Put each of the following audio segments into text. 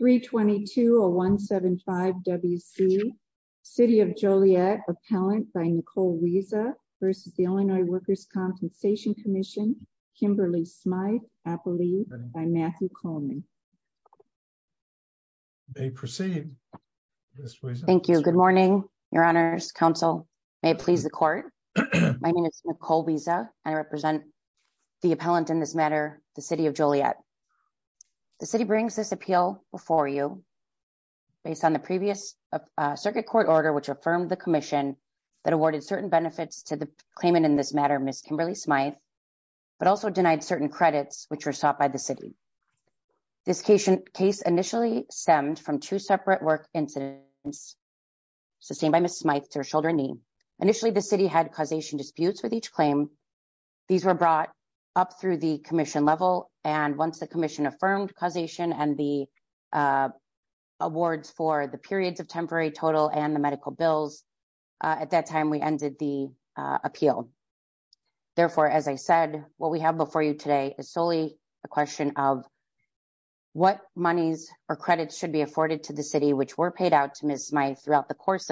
322-0175-WC City of Joliet Appellant by Nicole Wiese v. The Illinois Workers' Compensation Comm'n Kimberly Smythe, Appellee by Matthew Coleman. You may proceed, Ms. Wiese. Thank you. Good morning, Your Honors. Counsel may please the court. My name is Nicole Wiese and I represent the appellant in this matter, the City of Joliet. The City brings this appeal before you based on the previous circuit court order which affirmed the Commission that awarded certain benefits to the claimant in this matter, Ms. Kimberly Smythe, but also denied certain credits which were sought by the City. This case initially stemmed from two separate work incidents sustained by Ms. Smythe to her shoulder and knee. Initially, the City had causation disputes with each claim. These were brought up through the Commission level and once the Commission affirmed causation and the awards for the periods of temporary total and the medical bills, at that time we ended the appeal. Therefore, as I said, what we have before you today is solely a question of what monies or credits should be afforded to the City which were paid out to Ms. Smythe throughout the credit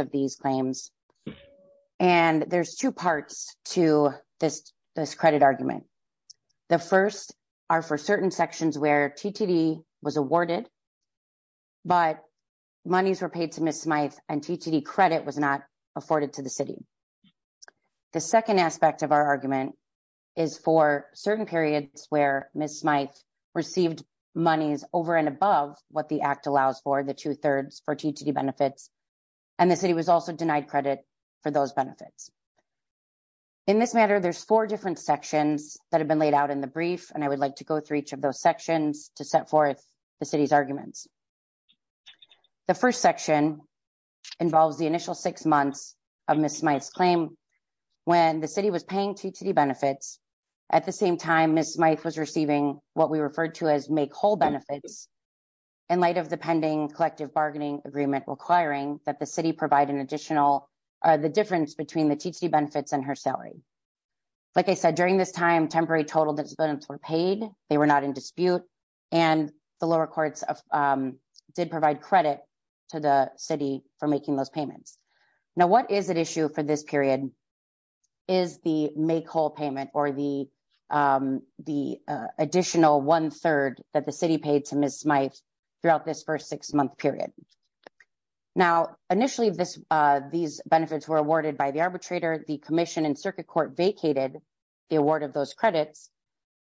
argument. The first are for certain sections where TTD was awarded but monies were paid to Ms. Smythe and TTD credit was not afforded to the City. The second aspect of our argument is for certain periods where Ms. Smythe received monies over and above what the Act allows for, the two-thirds for TTD benefits, and the City was also denied credit for those benefits. In this matter, there's four different sections that have been laid out in the brief and I would like to go through each of those sections to set forth the City's arguments. The first section involves the initial six months of Ms. Smythe's claim when the City was paying TTD benefits. At the same time, Ms. Smythe was receiving what we referred to as make whole benefits in light of the pending collective bargaining agreement requiring that the City provide an additional one-third of the TTD benefits and her salary. Like I said, during this time, temporary total disabilities were paid, they were not in dispute, and the lower courts did provide credit to the City for making those payments. Now, what is at issue for this period is the make whole payment or the additional one-third that the City paid to Ms. Smythe throughout this six-month period. Now, initially, these benefits were awarded by the arbitrator. The Commission and Circuit Court vacated the award of those credits,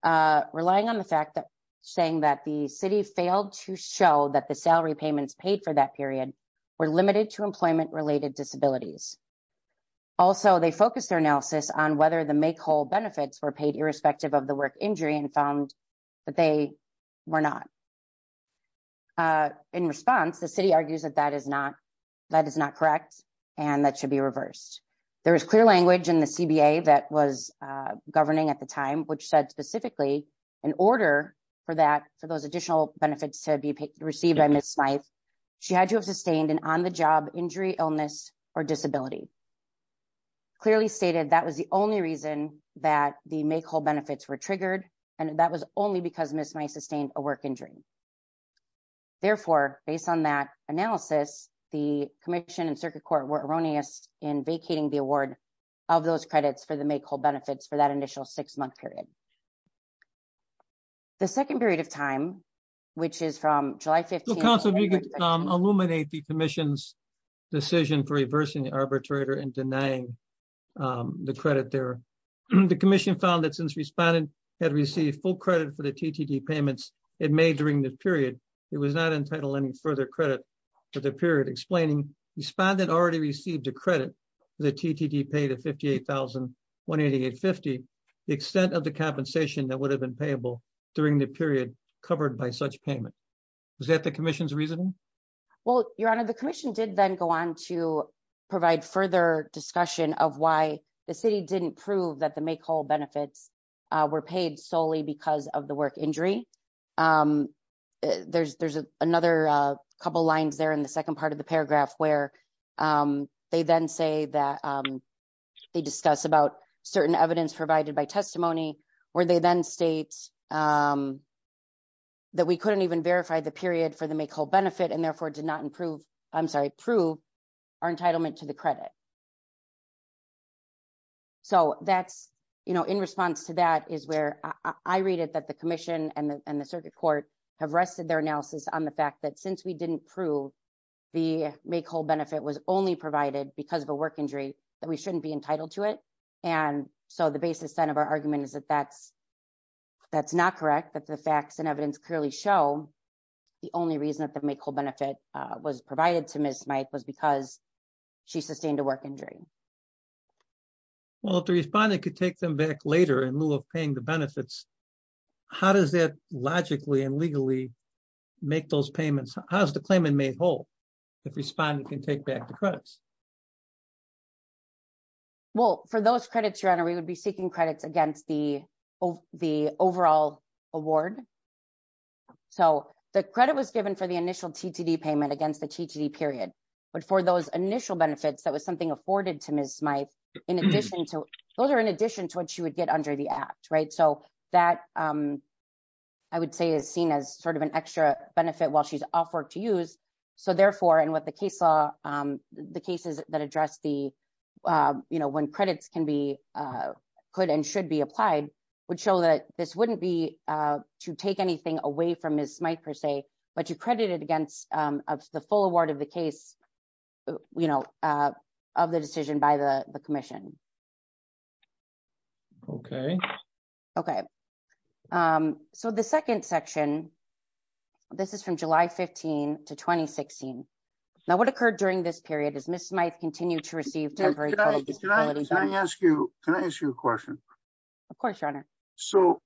relying on the fact that saying that the City failed to show that the salary payments paid for that period were limited to employment related disabilities. Also, they focused their analysis on whether the make whole benefits were in response. The City argues that that is not correct, and that should be reversed. There was clear language in the CBA that was governing at the time, which said specifically, in order for those additional benefits to be received by Ms. Smythe, she had to have sustained an on-the-job injury, illness, or disability. Clearly stated, that was the only reason that the make whole benefits were triggered, and that was only because Ms. Smythe sustained a work injury. Therefore, based on that analysis, the Commission and Circuit Court were erroneous in vacating the award of those credits for the make whole benefits for that initial six-month period. The second period of time, which is from July 15- So, Council, if you could illuminate the Commission's decision for reversing the arbitrator and denying the credit there. The Commission found that since respondent had received full credit for the TTT payments it made during the period, it was not entitled any further credit for the period, explaining, respondent already received a credit for the TTT paid at $58,188.50, the extent of the compensation that would have been payable during the period covered by such payment. Is that the Commission's reasoning? Well, Your Honor, the Commission did then go on to provide further discussion of why the City didn't prove that the make whole benefits were paid solely because of the work injury. There's another couple lines there in the second part of the paragraph where they then say that they discuss about certain evidence provided by testimony, where they then state that we couldn't even verify the period for the make whole benefit and therefore did not prove our entitlement to the credit. So, in response to that is where I read it that the Commission and the Circuit Court have rested their analysis on the fact that since we didn't prove the make whole benefit was only provided because of a work injury, that we shouldn't be entitled to it. And so the basis then of our argument is that that's not correct, that the facts and evidence clearly show the only reason that the make whole benefit was provided to Ms. Mike was because she sustained a work injury. Well, if the respondent could take them back later in lieu of paying the benefits, how does that logically and legally make those payments? How's the claimant made whole if respondent can take back the credits? Well, for those credits, Your Honor, we would be seeking credits against the overall award. So, the credit was given for the initial TTD payment against the TTD period, but for those initial benefits, that was something afforded to Ms. Smyth, in addition to, those are in addition to what she would get under the act, right? So, that, I would say is seen as sort of an extra benefit while she's off work to use. So, therefore, and what the case law, the cases that address the, you know, when credits can be, could and should be applied would show that this wouldn't be to take anything away from Ms. Smyth per se, but you credit it against the full award of the case, you know, of the decision by the commission. Okay. Okay. So, the second section, this is from July 15 to 2016. Now, what occurred during this period is Ms. Smyth continued to receive temporary credit. Can I ask you, can I ask you a question? Of course, Your Honor. So,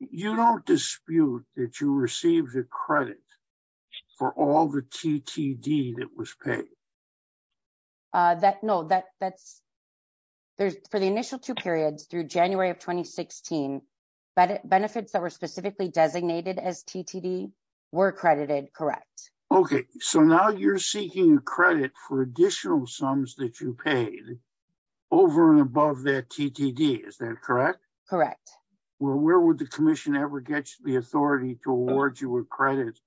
you don't dispute that you received a credit for all the TTD that was paid? That, no, that, that's, there's, for the initial two periods through January of 2016, benefits that were specifically designated as TTD were accredited, correct? Okay. So, now you're seeking credit for additional sums that you paid over and above that TTD, is that correct? Correct. Well, where would the commission ever get the authority to award you a credit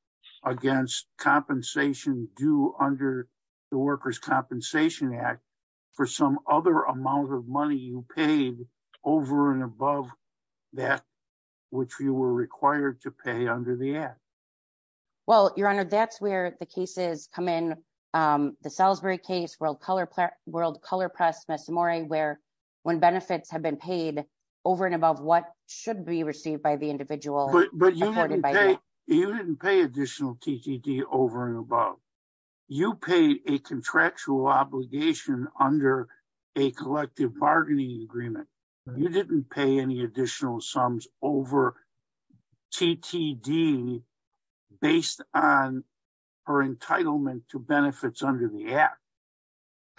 against compensation due under the Workers' Compensation Act for some other amount of money you paid over and above that which you were required to pay under the act? Well, Your Honor, that's where the cases come in. The Salisbury case, world color, world color press, where when benefits have been paid over and above what should be received by the individual. But you didn't pay, you didn't pay additional TTD over and above. You paid a contractual obligation under a collective bargaining agreement. You didn't pay any additional sums over TTD based on her entitlement to benefits under the act.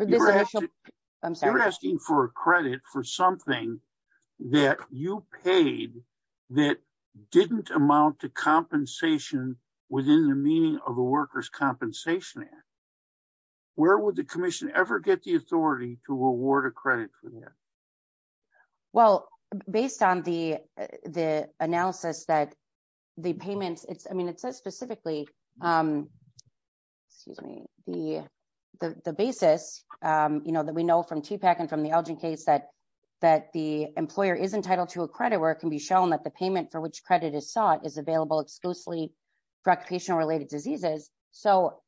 You're asking for a credit for something that you paid that didn't amount to compensation within the meaning of the Workers' Compensation Act. Where would the commission ever get the based on the the analysis that the payments it's I mean it says specifically excuse me the the basis you know that we know from TPAC and from the Elgin case that that the employer is entitled to a credit where it can be shown that the payment for which credit is sought is available exclusively for occupational related diseases. So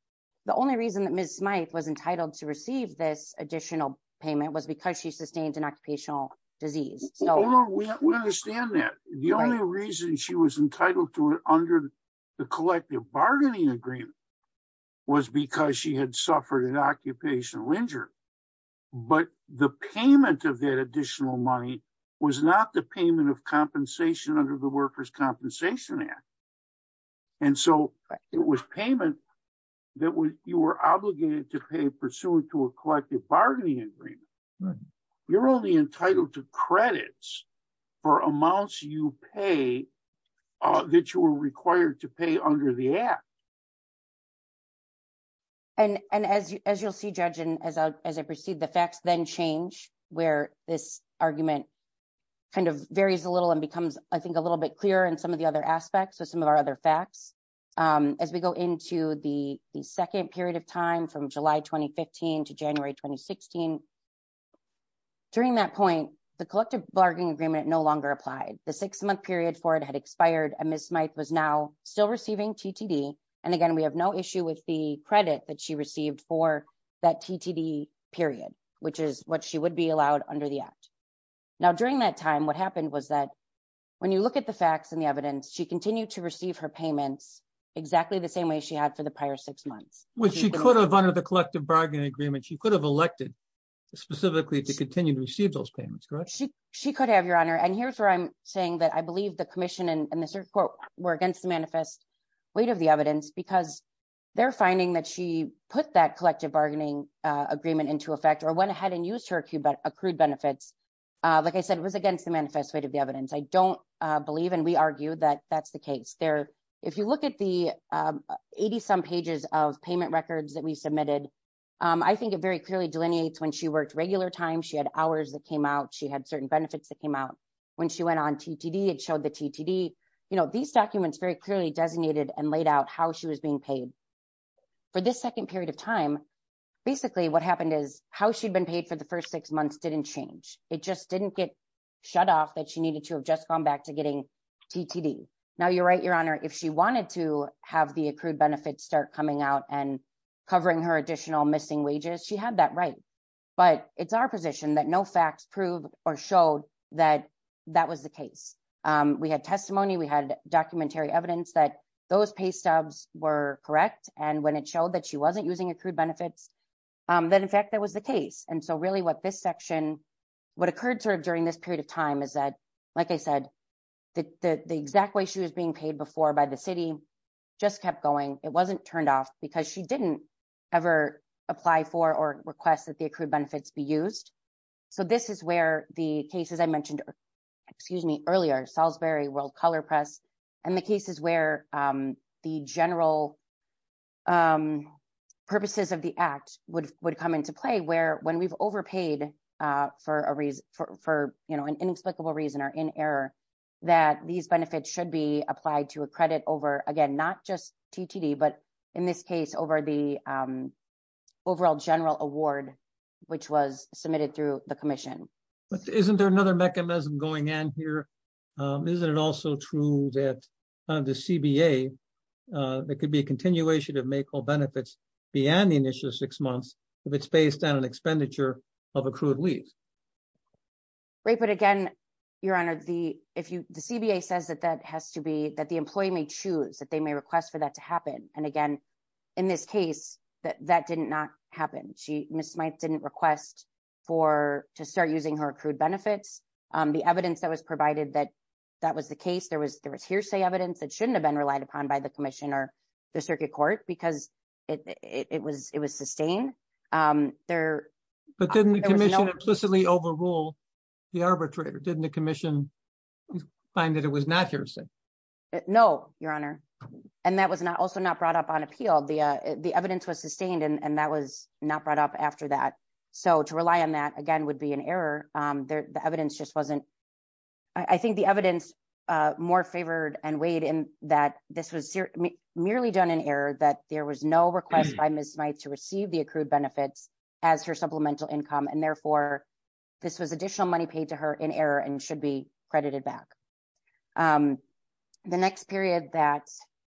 the only reason that Ms. Smythe was entitled to receive this additional payment was because she sustained an occupational disease. So we understand that. The only reason she was entitled to it under the collective bargaining agreement was because she had suffered an occupational injury. But the payment of that additional money was not the payment of compensation under the Workers' Compensation Act. And so it was payment that you were obligated to pay pursuant to a collective bargaining agreement. You're only entitled to credits for amounts you pay that you were required to pay under the act. And as you as you'll see Judge and as I as I proceed the facts then change where this argument kind of varies a little and becomes I think a little bit clearer in some of the other aspects of some of our other facts. As we go into the the second period of time from July 2015 to January 2016 during that point the collective bargaining agreement no longer applied. The six-month period for it had expired and Ms. Smythe was now still receiving TTD. And again we have no issue with the credit that she received for that TTD period which is what she would be allowed under the act. Now during that time what happened was that when you look at the facts and the evidence she continued to receive her payments exactly the same way she had for the prior six bargaining agreements. She could have elected specifically to continue to receive those payments correct? She could have your honor. And here's where I'm saying that I believe the commission and the circuit court were against the manifest weight of the evidence because they're finding that she put that collective bargaining agreement into effect or went ahead and used her accrued benefits. Like I said it was against the manifest weight of the evidence. I don't believe and we argue that that's the case. There if you look at the 80 some pages of payment records that we submitted I think it very clearly delineates when she worked regular time. She had hours that came out. She had certain benefits that came out. When she went on TTD it showed the TTD. You know these documents very clearly designated and laid out how she was being paid. For this second period of time basically what happened is how she'd been paid for the first six months didn't change. It just didn't get shut off that she needed to have just gone back to getting TTD. Now you're right your honor if she wanted to have the accrued benefits start coming out and covering her additional missing wages she had that right. But it's our position that no facts prove or showed that that was the case. We had testimony we had documentary evidence that those pay stubs were correct and when it showed that she wasn't using accrued benefits that in fact that was the case. And so really what this section what occurred sort of during this period of time is that like I said the the exact way she was being paid before by the city just kept going. It wasn't turned off because she didn't ever apply for or request that the accrued benefits be used. So this is where the cases I mentioned excuse me earlier Salisbury World Color Press and the cases where the general purposes of the act would would come into play where when we've overpaid for a reason for you know an inexplicable reason or in error that these benefits should be applied to a credit over again not just TTD but in this case over the overall general award which was submitted through the commission. But isn't there another mechanism going in here? Isn't it also true that the CBA there could be a continuation of make all benefits beyond the initial six months if it's based on an expenditure of accrued leave? Right but again your honor the if you the CBA says that has to be that the employee may choose that they may request for that to happen and again in this case that that did not happen. Ms. Smyth didn't request for to start using her accrued benefits. The evidence that was provided that that was the case there was there was hearsay evidence that shouldn't have been relied upon by the commission or the circuit court because it was it was sustained. But didn't the commission implicitly overrule the arbitrator? Didn't the commission find that it was not hearsay? No your honor and that was not also not brought up on appeal. The uh the evidence was sustained and that was not brought up after that so to rely on that again would be an error. The evidence just wasn't I think the evidence uh more favored and weighed in that this was merely done in error that there was no request by Ms. Smyth to receive the accrued benefits as her supplemental income and therefore this was additional money paid to her in error and should be credited back. The next period that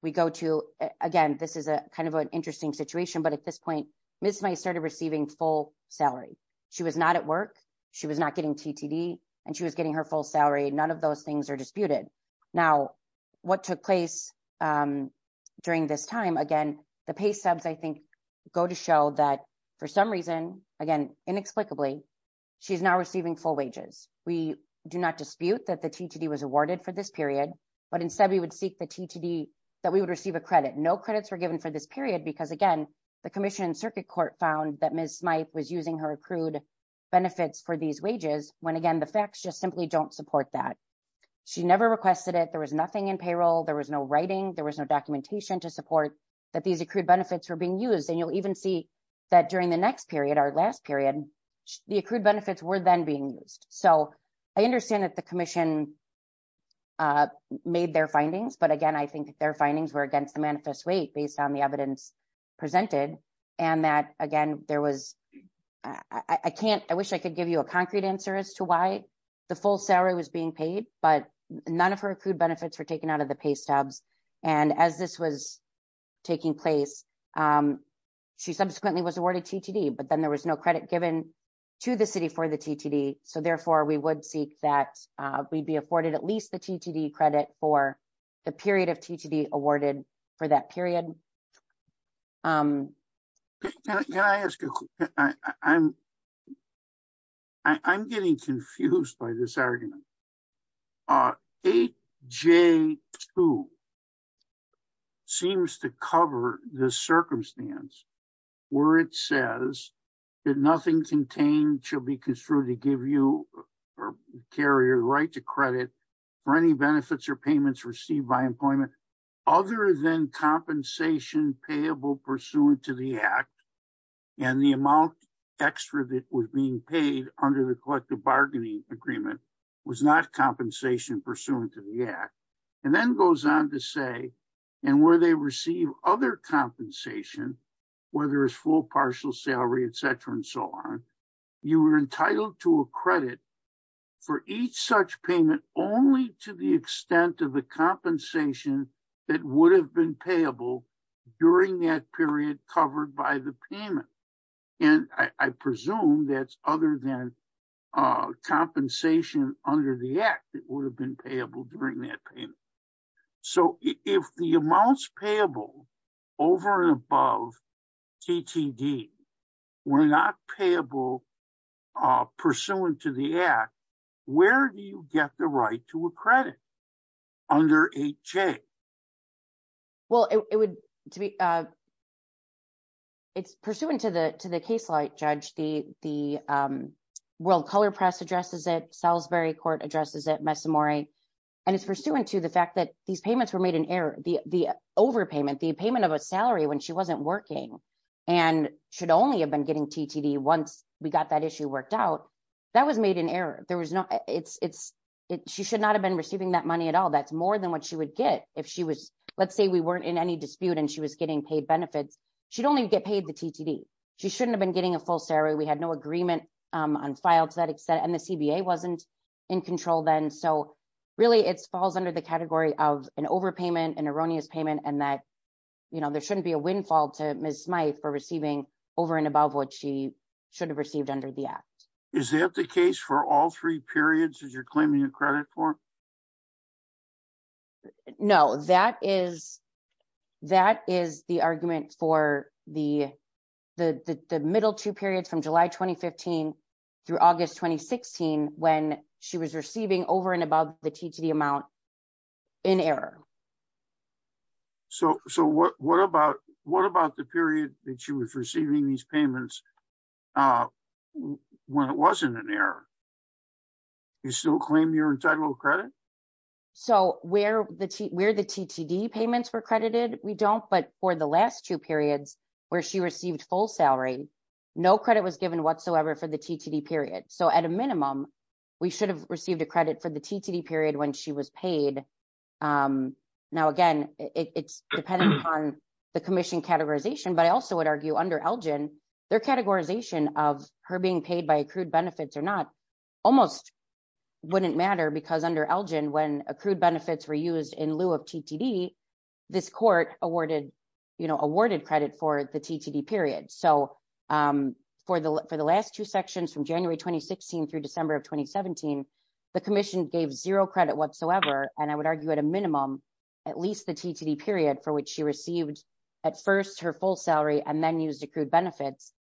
we go to again this is a kind of an interesting situation but at this point Ms. Smyth started receiving full salary. She was not at work she was not getting TTD and she was getting her full salary none of those things are disputed. Now what took place um during this time again the pay subs I for some reason again inexplicably she's now receiving full wages. We do not dispute that the TTD was awarded for this period but instead we would seek the TTD that we would receive a credit. No credits were given for this period because again the commission circuit court found that Ms. Smyth was using her accrued benefits for these wages when again the facts just simply don't support that. She never requested it there was nothing in payroll there was no writing there was no documentation to support that these accrued benefits were being used and you'll even see that during the next period our last period the accrued benefits were then being used. So I understand that the commission uh made their findings but again I think their findings were against the manifest weight based on the evidence presented and that again there was I can't I wish I could give you a concrete answer as to why the full salary was being paid but none of her accrued was awarded TTD but then there was no credit given to the city for the TTD so therefore we would seek that we'd be afforded at least the TTD credit for the period of TTD awarded for that period. Um can I ask you I'm I'm getting confused by this argument uh 8J2 seems to cover the where it says that nothing contained shall be construed to give you or carry your right to credit for any benefits or payments received by employment other than compensation payable pursuant to the act and the amount extra that was being paid under the collective bargaining agreement was not compensation pursuant to the act and then goes on to say and where they receive other compensation whether it's full partial salary etc and so on you were entitled to a credit for each such payment only to the extent of the compensation that would have been payable during that period covered by the payment and I presume that's other than uh compensation under the act that would have been payable during that payment so if the amounts payable over and above TTD were not payable uh pursuant to the act where do you get the right to a credit under 8J? Well it would to be uh it's pursuant to the to the case like judge the the um color press addresses it Salisbury court addresses it Mesamori and it's pursuant to the fact that these payments were made in error the the overpayment the payment of a salary when she wasn't working and should only have been getting TTD once we got that issue worked out that was made in error there was no it's it's it she should not have been receiving that money at all that's more than what she would get if she was let's say we weren't in any dispute and she was getting paid benefits she'd only get paid the TTD she shouldn't have been getting a full salary we had no agreement on file to that extent and the CBA wasn't in control then so really it falls under the category of an overpayment an erroneous payment and that you know there shouldn't be a windfall to Ms. Smyth for receiving over and above what she should have received under the act. Is that the case for all three periods that you're claiming your credit for? No that is that is the argument for the the middle two periods from July 2015 through August 2016 when she was receiving over and above the TTD amount in error. So so what what about what about the period that she was receiving these payments uh when it wasn't in error? You still claim you're entitled to credit? So where the where the TTD payments were credited we don't but for the last two periods where she received full salary no credit was given whatsoever for the TTD period so at a minimum we should have received a credit for the TTD period when she was paid. Now again it's dependent on the commission categorization but I also would argue under Elgin their categorization of her being paid by accrued benefits or not almost wouldn't matter because under Elgin when accrued benefits were used in lieu of TTD this court awarded you know the credit for the TTD period so um for the for the last two sections from January 2016 through December of 2017 the commission gave zero credit whatsoever and I would argue at a minimum at least the TTD period for which she received at first her full salary and then used accrued benefits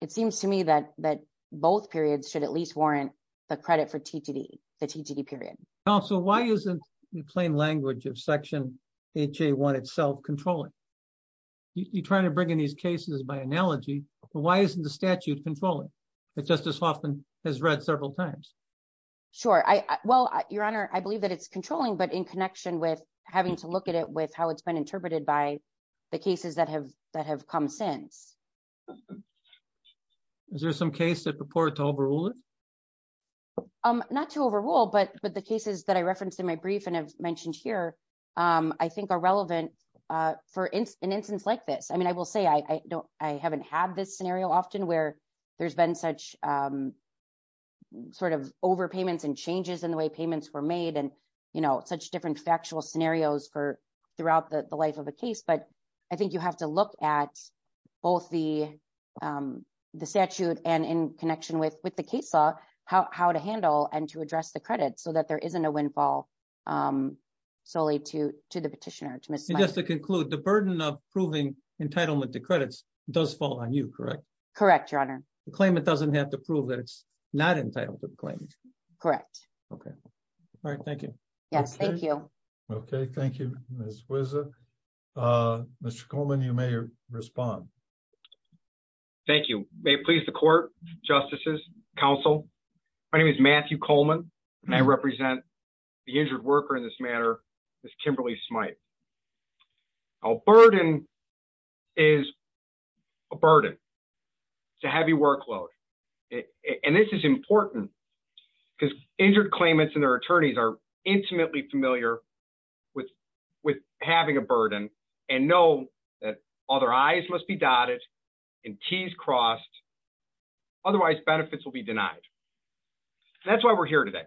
it seems to me that that both periods should at least warrant the credit for TTD the TTD period. Counsel why isn't the plain language of section HA1 itself controlling? You're trying to bring in these cases by analogy but why isn't the statute controlling that Justice Hoffman has read several times? Sure I well your honor I believe that it's controlling but in connection with having to look at it with how it's been interpreted by the cases that have that have come since. Is there some case that purport to overrule it? Um not to overrule but but the cases that I referenced in my brief and have mentioned here um I think are relevant uh for an instance like this I mean I will say I don't I haven't had this scenario often where there's been such um sort of over payments and changes in the way payments were made and you know such different factual scenarios for throughout the the life of a case but I think you have to look at both the um the statute and in connection with with the case law how to handle and to address the credit so that there isn't a windfall um solely to to the petitioner. And just to conclude the burden of proving entitlement to credits does fall on you correct? Correct your honor. The claimant doesn't have to prove that it's not entitled to the claim? Correct. Okay all right thank you. Yes thank you. Okay thank you Ms. Wiza uh Mr. Coleman you may respond. Thank you. May it please the court, justices, counsel my name is Matthew Coleman and I represent the injured worker in this matter Ms. Kimberly Smythe. A burden is a burden it's a heavy workload and this is important because injured claimants and their attorneys are intimately familiar with with having a burden and know that all their I's must be dotted and T's crossed otherwise benefits will be denied. That's why we're here today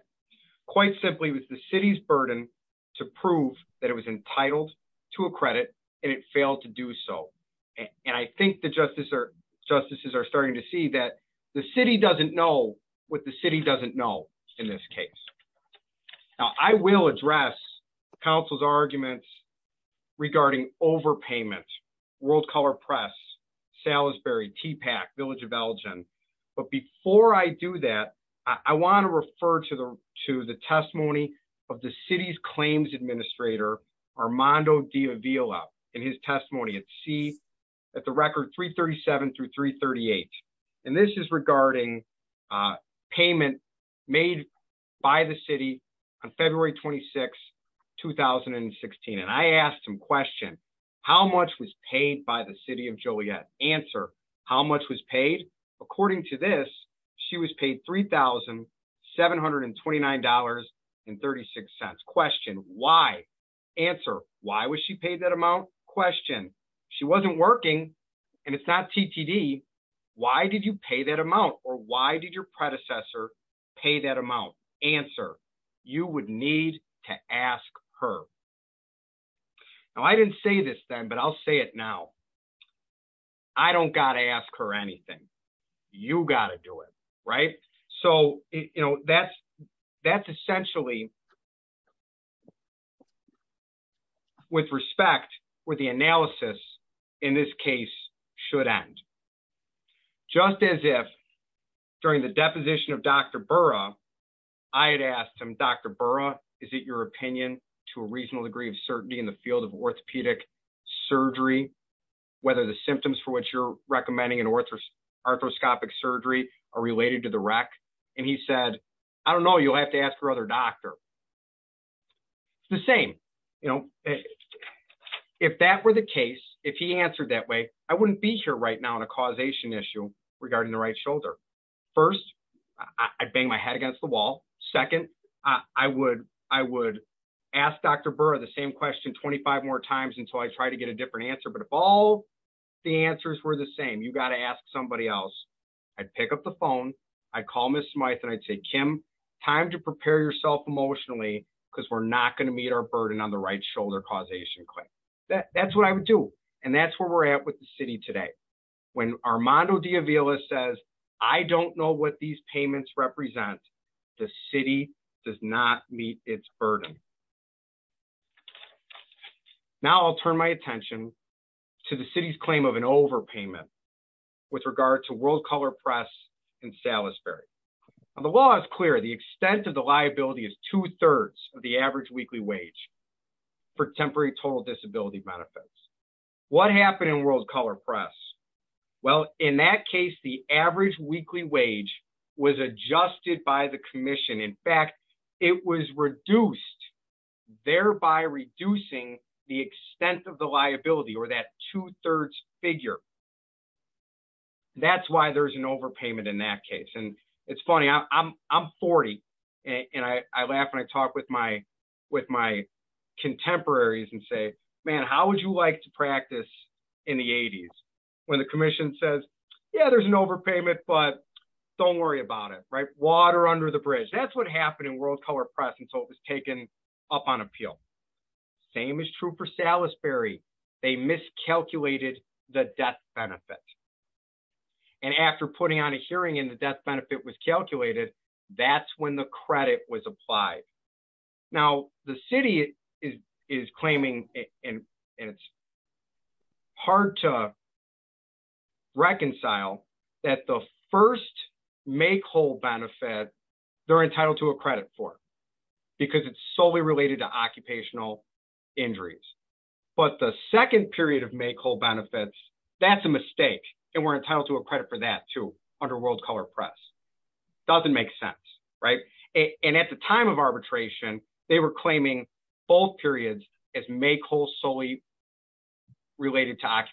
quite simply with the city's burden to prove that it was entitled to a credit and it failed to do so and I think the justices are justices are starting to see that the city doesn't know what the city doesn't know in this case. Now I will address counsel's arguments regarding overpayment, World Color Press, Salisbury, TPAC, Village of Elgin, but before I do that I want to refer to the to the testimony of the city's claims administrator Armando Diavila in his testimony C at the record 337 through 338 and this is regarding payment made by the city on February 26, 2016 and I asked him question how much was paid by the city of Joliet? Answer, how much was paid? According to this she was paid $3,729.36. Question, why? Answer, why was she paid that amount? Question, she wasn't working and it's not TTD. Why did you pay that amount or why did your predecessor pay that amount? Answer, you would need to ask her. Now I didn't say this then but I'll say it now. I don't got to ask her anything. You got to do it, right? So you know that's essentially with respect with the analysis in this case should end. Just as if during the deposition of Dr. Burra I had asked him Dr. Burra is it your opinion to a reasonable degree of certainty in the field of orthopedic surgery whether the symptoms for which you're recommending an ortho arthroscopic surgery are related to the wreck and he said I don't know you'll have to ask your other doctor. The same you know if that were the case if he answered that way I wouldn't be here right now on a causation issue regarding the right shoulder. First, I'd bang my head against the wall. Second, I would ask Dr. Burra the same question 25 more times until I try to get a different answer but if all the answers were the same you got to ask somebody else. I'd pick up the emotionally because we're not going to meet our burden on the right shoulder causation claim. That's what I would do and that's where we're at with the city today. When Armando Diavila says I don't know what these payments represent the city does not meet its burden. Now I'll turn my attention to the city's claim of an overpayment with regard to World Color Press in Salisbury. The law is clear the extent of the liability is two-thirds of the average weekly wage for temporary total disability benefits. What happened in World Color Press? Well in that case the average weekly wage was adjusted by the commission. In fact it was reduced thereby reducing the extent of the liability or that two-thirds figure. That's why there's an overpayment in that case and it's funny I'm 40 and I laugh and I talk with my contemporaries and say man how would you like to practice in the 80s when the commission says yeah there's an overpayment but don't worry about it right water under the bridge. That's what happened in World Color Press until it was taken up on appeal. Same is true for Salisbury. They miscalculated the death benefit and after putting on a hearing and the death benefit was calculated that's when the credit was applied. Now the city is claiming and it's hard to reconcile that the first make whole benefit they're entitled to a credit for because it's related to occupational injuries but the second period of make whole benefits that's a mistake and we're entitled to a credit for that too under World Color Press. Doesn't make sense right and at the time of arbitration they were claiming both periods as make whole solely related to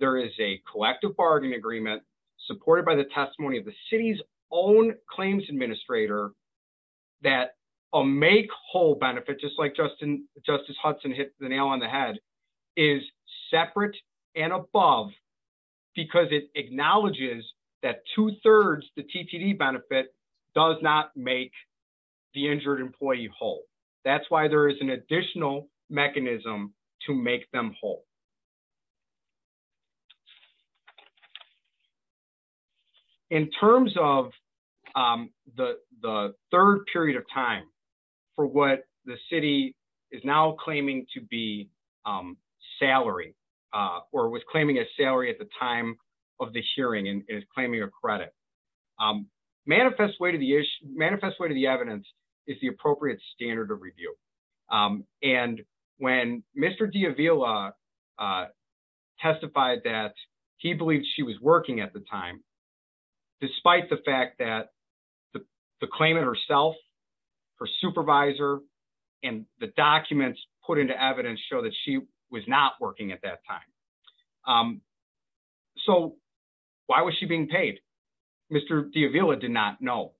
there is a collective bargaining agreement supported by the testimony of the city's own claims administrator that a make whole benefit just like Justice Hudson hit the nail on the head is separate and above because it acknowledges that two-thirds the TTD benefit does not make the injured employee whole. That's why there is an additional mechanism to make them whole. In terms of the the third period of time for what the city is now claiming to be salary or was claiming a salary at the time of the hearing and is claiming a credit manifest way to the issue manifest way to the evidence is the appropriate standard of review and when Mr. D'Avila testified that he believed she was working at the time despite the fact that the claimant herself her supervisor and the documents put into evidence show that she was not working at that time. So why was she being paid? Mr. D'Avila did not know.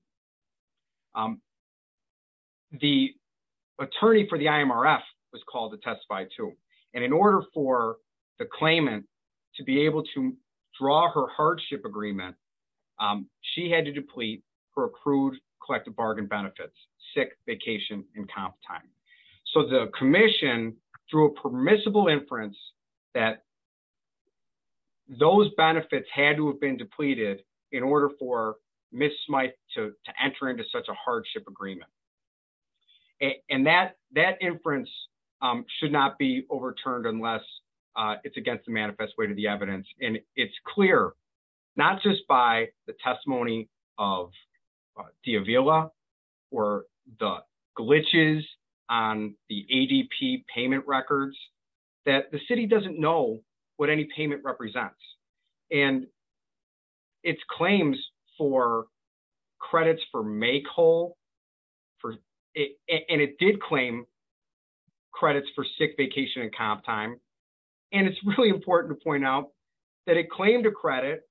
The attorney for the IMRF was called to testify too and in order for the claimant to be able to draw her hardship agreement she had to deplete her accrued collective bargain benefits sick vacation and comp time. So the commission through a permissible inference that those benefits had to have been depleted in order for Ms. Smythe to enter into such a hardship agreement and that inference should not be overturned unless it's against the manifest way to the evidence and it's clear not just by the testimony of D'Avila or the glitches on the ADP payment records that the city doesn't know what any payment represents and it's claims for credits for make whole for it and it did claim credits for sick vacation and comp time and it's really important to point out that it claimed a credit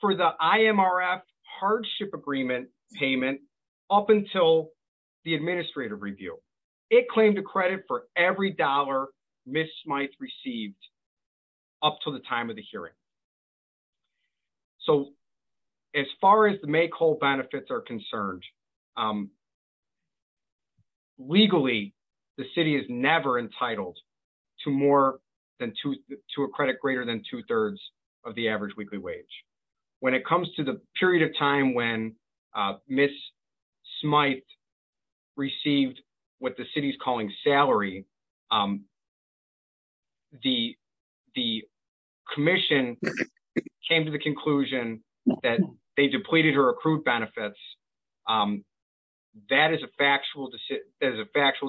for the IMRF hardship agreement payment up until the administrative review. It claimed a credit for every dollar Ms. Smythe received up to the time of the hearing. So as far as the make whole benefits are concerned, legally the city is never entitled to more than two to a credit greater than two-thirds of the average weekly wage. When it the city's calling salary, the commission came to the conclusion that they depleted her accrued benefits. That is a factual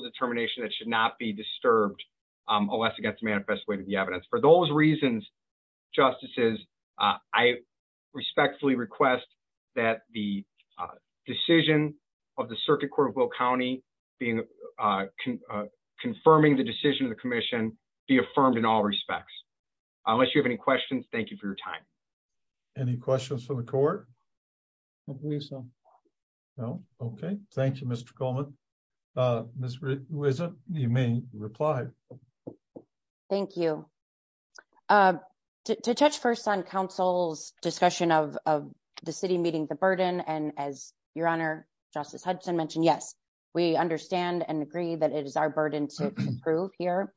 determination that should not be disturbed unless it gets manifest way to the evidence. For those reasons, justices, I respectfully request that the decision of the uh confirming the decision of the commission be affirmed in all respects. Unless you have any questions, thank you for your time. Any questions for the court? I believe so. No? Okay. Thank you, Mr. Coleman. Uh Ms. Ruizza, you may reply. Thank you. Uh to touch first on council's discussion of of the city meeting the burden and as your honor justice Hudson mentioned, yes, we understand and agree that it is our burden to prove here.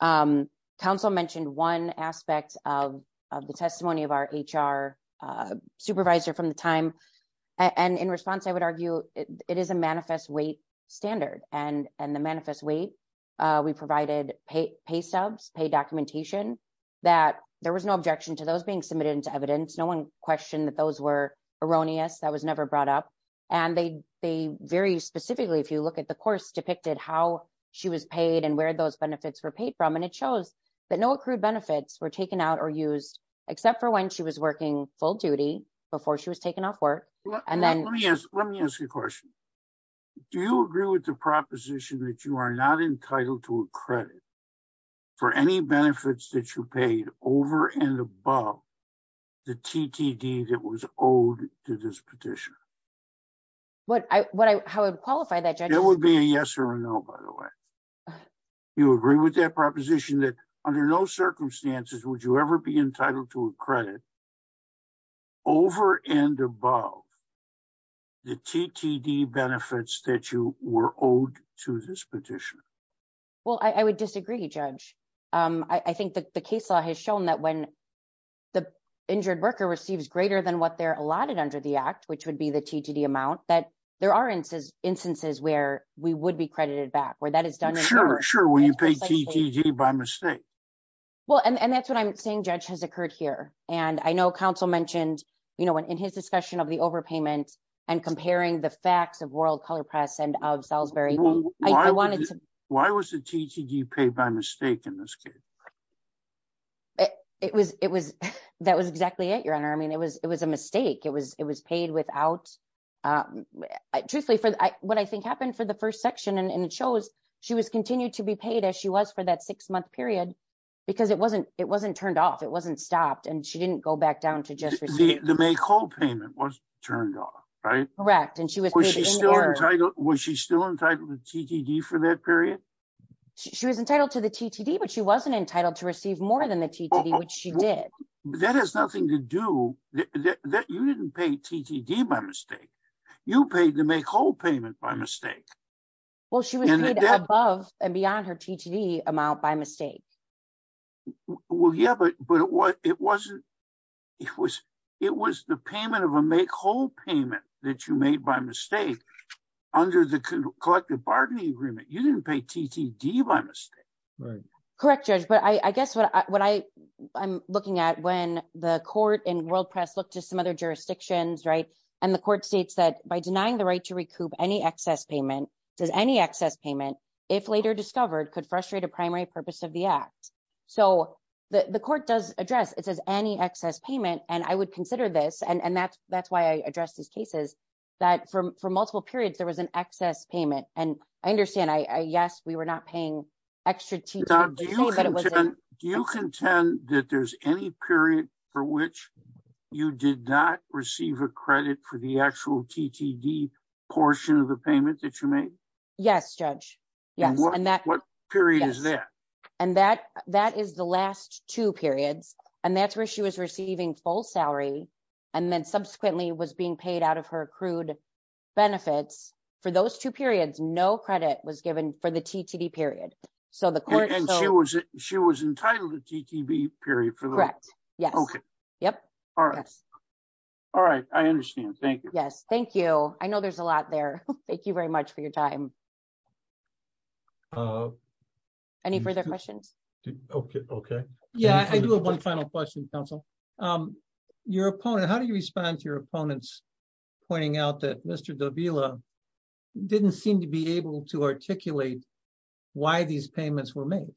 Um council mentioned one aspect of of the testimony of our HR uh supervisor from the time and in response I would argue it is a manifest weight standard and and the manifest weight uh we provided pay pay subs, pay documentation that there was no objection to those being submitted into evidence. No one questioned that those were erroneous. That was never brought up and they they very specifically if you look at the course depicted how she was paid and where those benefits were paid from and it shows that no accrued benefits were taken out or used except for when she was working full duty before she was taken off work and then let me ask let me ask you a question. Do you agree with the proposition that you are not entitled to a credit for any benefits that you paid over and above the TTD that was owed to this petition? What I what I how would qualify that judge? It would be a yes or a no by the way. You agree with that proposition that under no circumstances would you ever be entitled to a credit over and above the TTD benefits that you were owed to this injured worker receives greater than what they're allotted under the act which would be the TTD amount that there are instances where we would be credited back where that is done. Sure sure when you pay TTD by mistake. Well and and that's what I'm saying judge has occurred here and I know counsel mentioned you know when in his discussion of the overpayment and comparing the facts of World Color Press and of Salisbury. I wanted to. Why was the TTD paid by mistake in this case? It was it was that was exactly it your honor. I mean it was it was a mistake it was it was paid without truthfully for what I think happened for the first section and it shows she was continued to be paid as she was for that six month period because it wasn't it wasn't turned off it wasn't stopped and she didn't go back down to just the May call payment was turned off right correct and she was was she still entitled was she still entitled to TTD for that period she was entitled to the TTD but she wasn't entitled to receive more than the TTD which she did. That has nothing to do that you didn't pay TTD by mistake you paid the May call payment by mistake. Well she was above and beyond her TTD amount by mistake. Well yeah but but what it wasn't it was it was the payment of a May call payment that you made by mistake under the collective bargaining agreement you didn't pay TTD by mistake. Right correct judge but I guess what I what I I'm looking at when the court and world press look to some other jurisdictions right and the court states that by denying the right to recoup any excess payment does any excess payment if later discovered could frustrate a primary purpose of the act. So the the court does address it says any excess payment and I would consider this and and that's that's why I addressed these that from for multiple periods there was an excess payment and I understand I yes we were not paying extra. Do you contend that there's any period for which you did not receive a credit for the actual TTD portion of the payment that you made? Yes judge yes and that what period is that and that that is the last two periods and that's where she was receiving full salary and then subsequently was being paid out of her accrued benefits for those two periods no credit was given for the TTD period. So the court and she was she was entitled to TTD period for the correct yes okay yep all right all right I understand thank you yes thank you I know there's a lot there thank you very much for your time. Any further questions? Okay okay yeah I do have one final question counsel your opponent how do you respond to your opponents pointing out that Mr. Davila didn't seem to be able to articulate why these payments were made?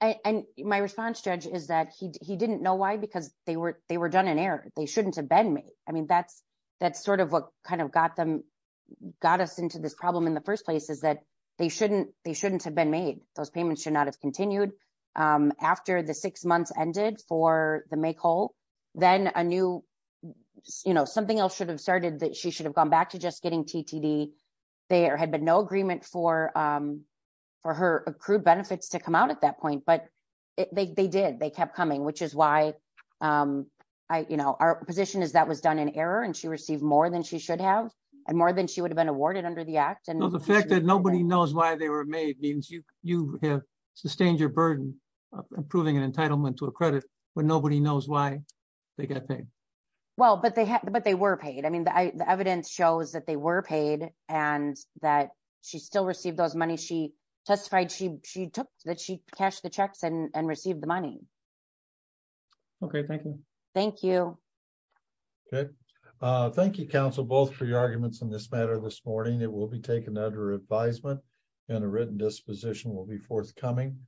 And my response judge is that he he didn't know why because they were they were done in error they shouldn't have been made I mean that's that's sort of what kind of got them got us into this problem in the first place is that they shouldn't they shouldn't have been made those payments should not have continued after the six months ended for the make whole then a new you know something else should have started that she should have gone back to just getting TTD they had been no agreement for for her accrued benefits to come out at that point but they did they kept coming which is why I you know our position is that was done in error and she received more than she should have and more than she would have been awarded under the act and the fact that nobody knows why they were made means you have sustained your burden of improving an entitlement to a credit when nobody knows why they got paid. Well but they had but they were paid I mean the evidence shows that they were paid and that she still received those money she testified she she took that she cashed the checks and and received the money. Okay thank you. Thank you. Okay thank you counsel both for your arguments in this matter this morning it will be taken under advisement and a written disposition will be forthcoming.